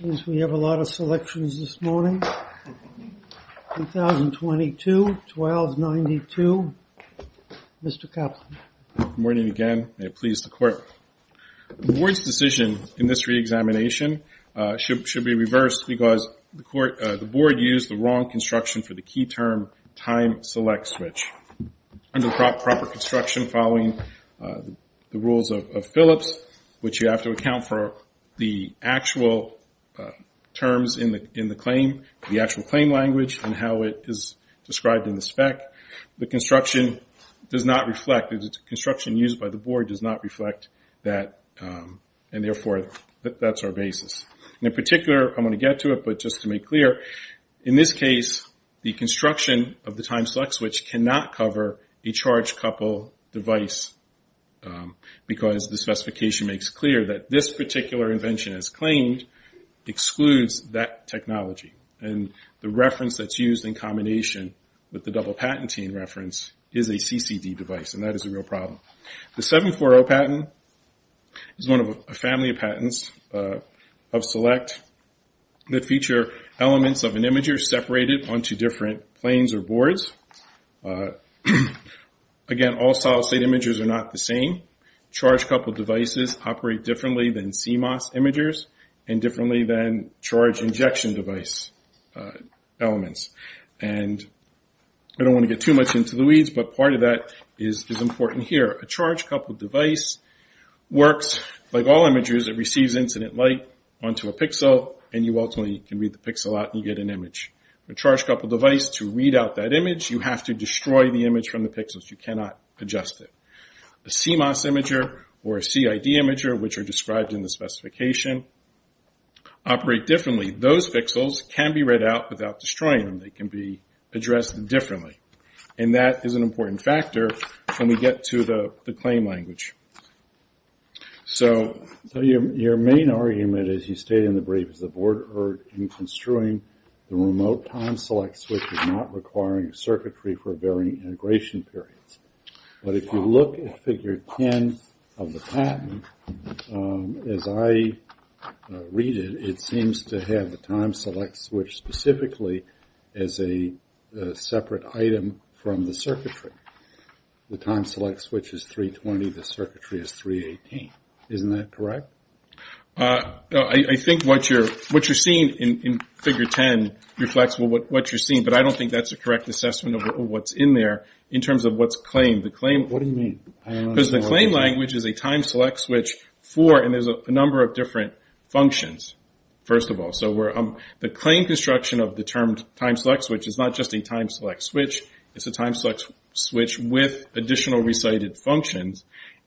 Since we have a lot of selections this morning, 1022, 1292, Mr. Kaplan. Good morning again, may it please the court. The board's decision in this re-examination should be reversed because the board used the wrong construction for the key term time select switch. Under proper construction following the rules of Phillips, which you have to account for the actual terms in the claim, the actual claim language and how it is described in the spec. The construction does not reflect, the construction used by the board does not reflect that and therefore that's our basis. In particular, I'm going to get to it, but just to make clear, in this case the construction of the time select switch cannot cover a charge couple device. Because the specification makes clear that this particular invention as claimed excludes that technology. The reference that's used in combination with the double patenting reference is a CCD device and that is a real problem. The 740 patent is one of a family of patents of select that feature elements of an imager separated onto different planes or boards. Again, all solid state imagers are not the same. Charge couple devices operate differently than CMOS imagers and differently than charge injection device elements. I don't want to get too much into the weeds, but part of that is important here. A charge couple device works like all imagers. It receives incident light onto a pixel and you ultimately can read the pixel out and you get an image. A charge couple device, to read out that image, you have to destroy the image from the pixels. You cannot adjust it. A CMOS imager or a CID imager, which are described in the specification, operate differently. Those pixels can be read out without destroying them. They can be addressed differently. That is an important factor when we get to the claim language. Your main argument, as you state in the brief, is the board heard in construing the remote time select switch is not requiring circuitry for varying integration periods. If you look at figure 10 of the patent, as I read it, it seems to have the time select switch specifically as a separate item from the circuitry. The time select switch is 320. The circuitry is 318. Isn't that correct? I think what you're seeing in figure 10 reflects what you're seeing, but I don't think that's a correct assessment of what's in there in terms of what's claimed. What do you mean? Because the claim language is a time select switch for, and there's a number of different functions, first of all. The claim construction of the term time select switch is not just a time select switch. It's a time select switch with additional recited functions.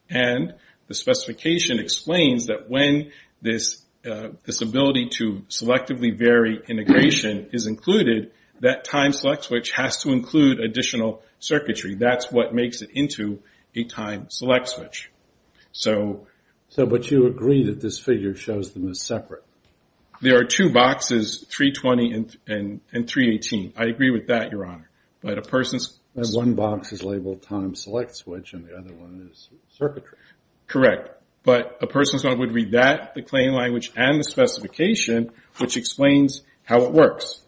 The specification explains that when this ability to selectively vary integration is included, that time select switch has to include additional circuitry. That's what makes it into a time select switch. But you agree that this figure shows them as separate? There are two boxes, 320 and 318. I agree with that, Your Honor. One box is labeled time select switch, and the other one is circuitry. Correct. But a person would read that, the claim language, and the specification, which explains how it works.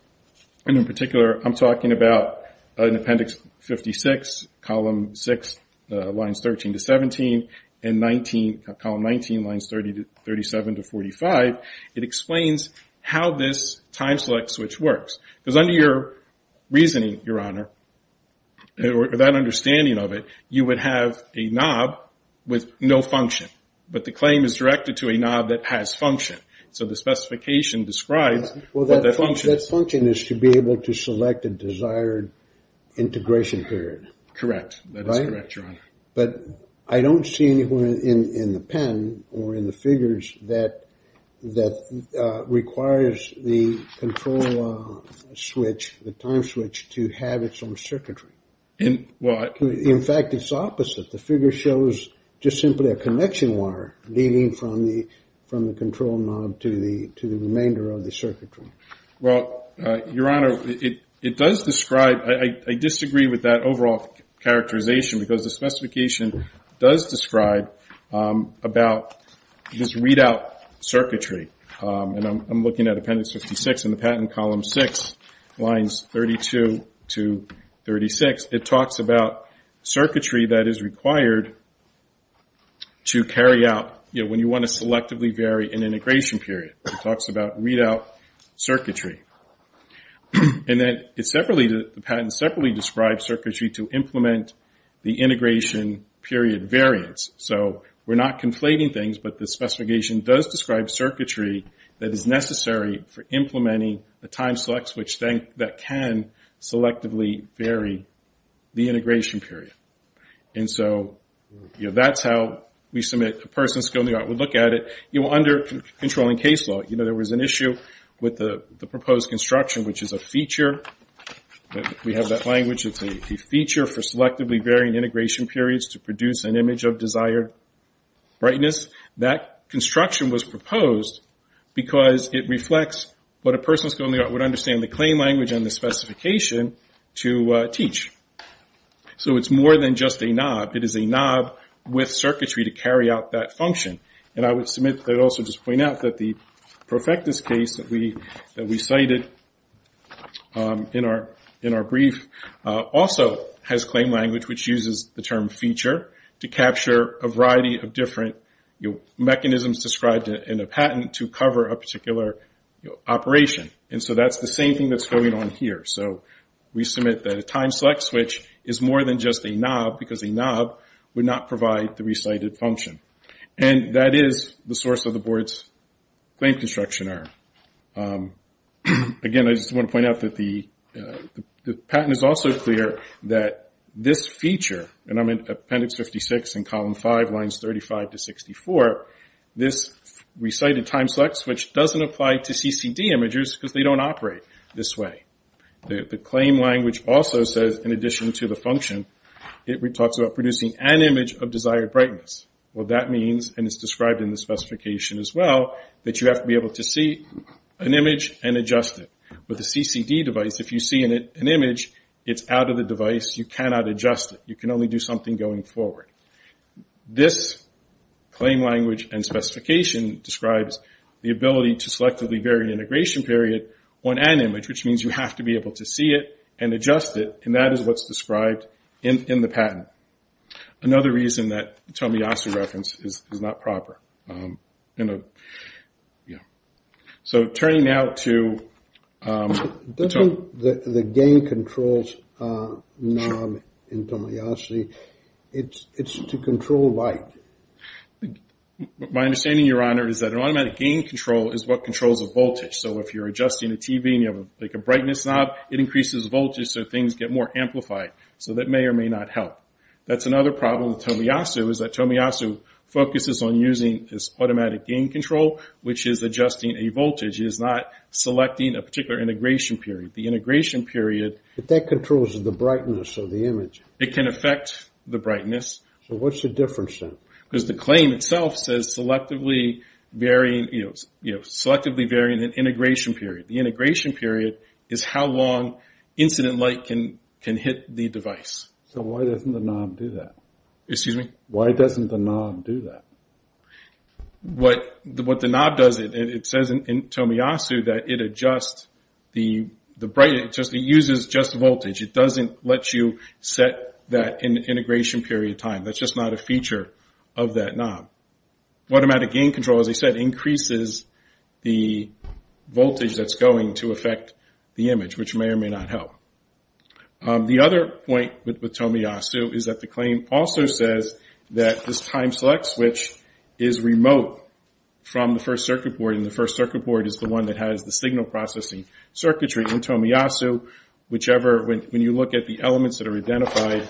In particular, I'm talking about in Appendix 56, Column 6, Lines 13 to 17, and Column 19, Lines 37 to 45. It explains how this time select switch works. Because under your reasoning, Your Honor, or that understanding of it, you would have a knob with no function. But the claim is directed to a knob that has function. So the specification describes what that function is. Well, that function is to be able to select a desired integration period. Correct. That is correct, Your Honor. But I don't see anywhere in the pen or in the figures that requires the control switch, the time switch, to have its own circuitry. In fact, it's opposite. The figure shows just simply a connection wire leading from the control knob to the remainder of the circuitry. Well, Your Honor, it does describe, I disagree with that overall characterization, because the specification does describe about this readout circuitry. And I'm looking at Appendix 56 in the patent, Column 6, Lines 32 to 36. It talks about circuitry that is required to carry out when you want to selectively vary an integration period. It talks about readout circuitry. And then the patent separately describes circuitry to implement the integration period variance. So we're not conflating things, but the specification does describe circuitry that is necessary for implementing a time select switch that can selectively vary the integration period. And so that's how we submit a person's skill in the art. We look at it. Under controlling case law, you know, there was an issue with the proposed construction, which is a feature. We have that language. It's a feature for selectively varying integration periods to produce an image of desired brightness. That construction was proposed because it reflects what a person's skill in the art would understand the claim language and the specification to teach. So it's more than just a knob. It is a knob with circuitry to carry out that function. And I would also just point out that the Profectus case that we cited in our brief also has claim language, which uses the term feature to capture a variety of different mechanisms described in a patent to cover a particular operation. And so that's the same thing that's going on here. So we submit that a time select switch is more than just a knob because a knob would not provide the recited function. And that is the source of the board's claim construction error. Again, I just want to point out that the patent is also clear that this feature, and I'm at appendix 56 in column 5, lines 35 to 64, this recited time select switch doesn't apply to CCD images because they don't operate this way. The claim language also says, in addition to the function, it talks about producing an image of desired brightness. Well, that means, and it's described in the specification as well, that you have to be able to see an image and adjust it. With a CCD device, if you see an image, it's out of the device. You cannot adjust it. You can only do something going forward. This claim language and specification describes the ability to selectively vary integration period on an image, which means you have to be able to see it and adjust it, and that is what's described in the patent. Another reason that the Tomoyasu reference is not proper. So turning now to the Tomoyasu. Doesn't the gain controls knob in Tomoyasu, it's to control light? My understanding, Your Honor, is that an automatic gain control is what controls the voltage. So if you're adjusting a TV and you have like a brightness knob, it increases voltage so things get more amplified. So that may or may not help. That's another problem with Tomoyasu is that Tomoyasu focuses on using this automatic gain control, which is adjusting a voltage. It is not selecting a particular integration period. The integration period. But that controls the brightness of the image. It can affect the brightness. So what's the difference then? Because the claim itself says selectively varying, you know, selectively varying an integration period. The integration period is how long incident light can hit the device. So why doesn't the knob do that? Excuse me? Why doesn't the knob do that? What the knob does, it says in Tomoyasu that it adjusts the brightness. It uses just voltage. It doesn't let you set that integration period time. That's just not a feature of that knob. Automatic gain control, as I said, increases the voltage that's going to affect the image, which may or may not help. The other point with Tomoyasu is that the claim also says that this time select switch is remote from the first circuit board, and the first circuit board is the one that has the signal processing circuitry in Tomoyasu, whichever when you look at the elements that are identified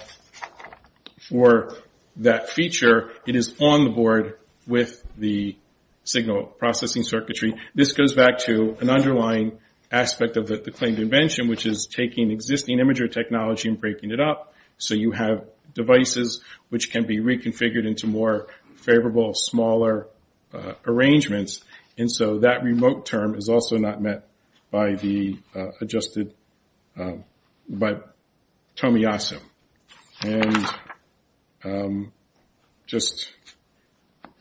for that feature, it is on the board with the signal processing circuitry. This goes back to an underlying aspect of the claimed invention, which is taking existing imager technology and breaking it up. So you have devices which can be reconfigured into more favorable, smaller arrangements. That remote term is also not met by Tomoyasu. On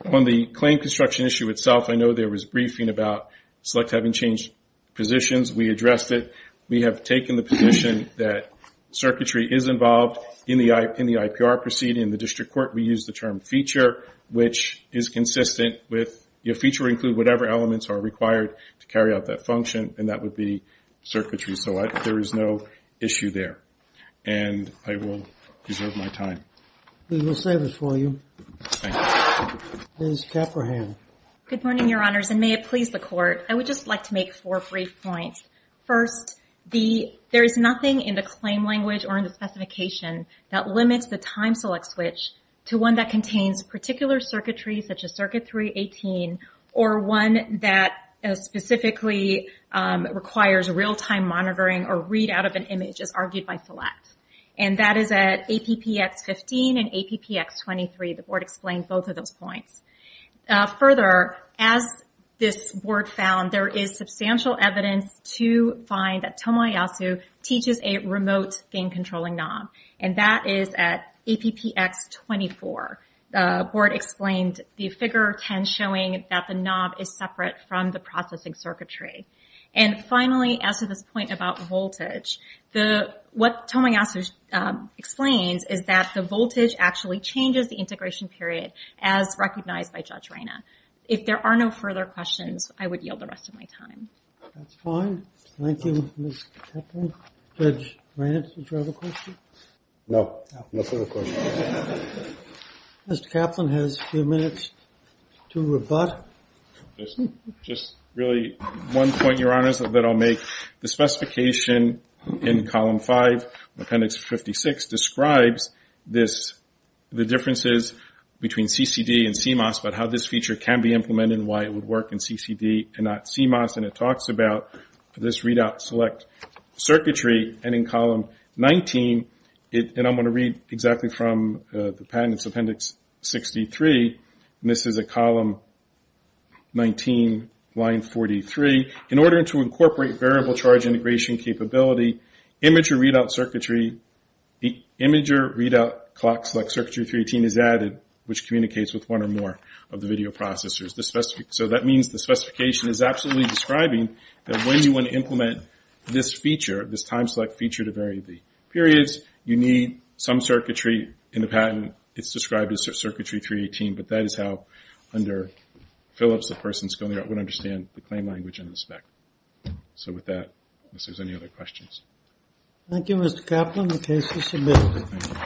the claim construction issue itself, I know there was briefing about select having changed positions. We addressed it. We have taken the position that circuitry is involved in the IPR proceeding. In the district court, we use the term feature, which is consistent with your feature include whatever elements are required to carry out that function, and that would be circuitry. So there is no issue there, and I will reserve my time. We will save it for you. Thank you. Ms. Caprahan. Good morning, Your Honors, and may it please the Court. I would just like to make four brief points. First, there is nothing in the claim language or in the specification that limits the time select switch to one that contains particular circuitry, such as Circuit 318, or one that specifically requires real-time monitoring or readout of an image, as argued by select. And that is at APPX 15 and APPX 23. The board explained both of those points. Further, as this board found, there is substantial evidence to find that Tomoyasu teaches a remote gain-controlling knob, and that is at APPX 24. The board explained the figure 10 showing that the knob is separate from the processing circuitry. And finally, as to this point about voltage, what Tomoyasu explains is that the voltage actually changes the integration period, as recognized by Judge Reina. If there are no further questions, I would yield the rest of my time. That's fine. Thank you, Ms. Caprahan. Judge Reina, did you have a question? No. No further questions. Mr. Caplan has a few minutes to rebut. Just really one point, Your Honors, that I'll make. The specification in Column 5, Appendix 56, describes the differences between CCD and CMOS, but how this feature can be implemented and why it would work in CCD and not CMOS. And it talks about this readout select circuitry. And in Column 19, and I'm going to read exactly from the Patents Appendix 63, and this is at Column 19, Line 43, in order to incorporate variable charge integration capability, imager readout clock select circuitry 318 is added, which communicates with one or more of the video processors. So that means the specification is absolutely describing that when you want to implement this feature, this time select feature to vary the periods, you need some circuitry in the patent. It's described as circuitry 318, but that is how under Phillips the person's going to understand the claim language and the spec. So with that, unless there's any other questions. Thank you, Mr. Caplan. The case is submitted.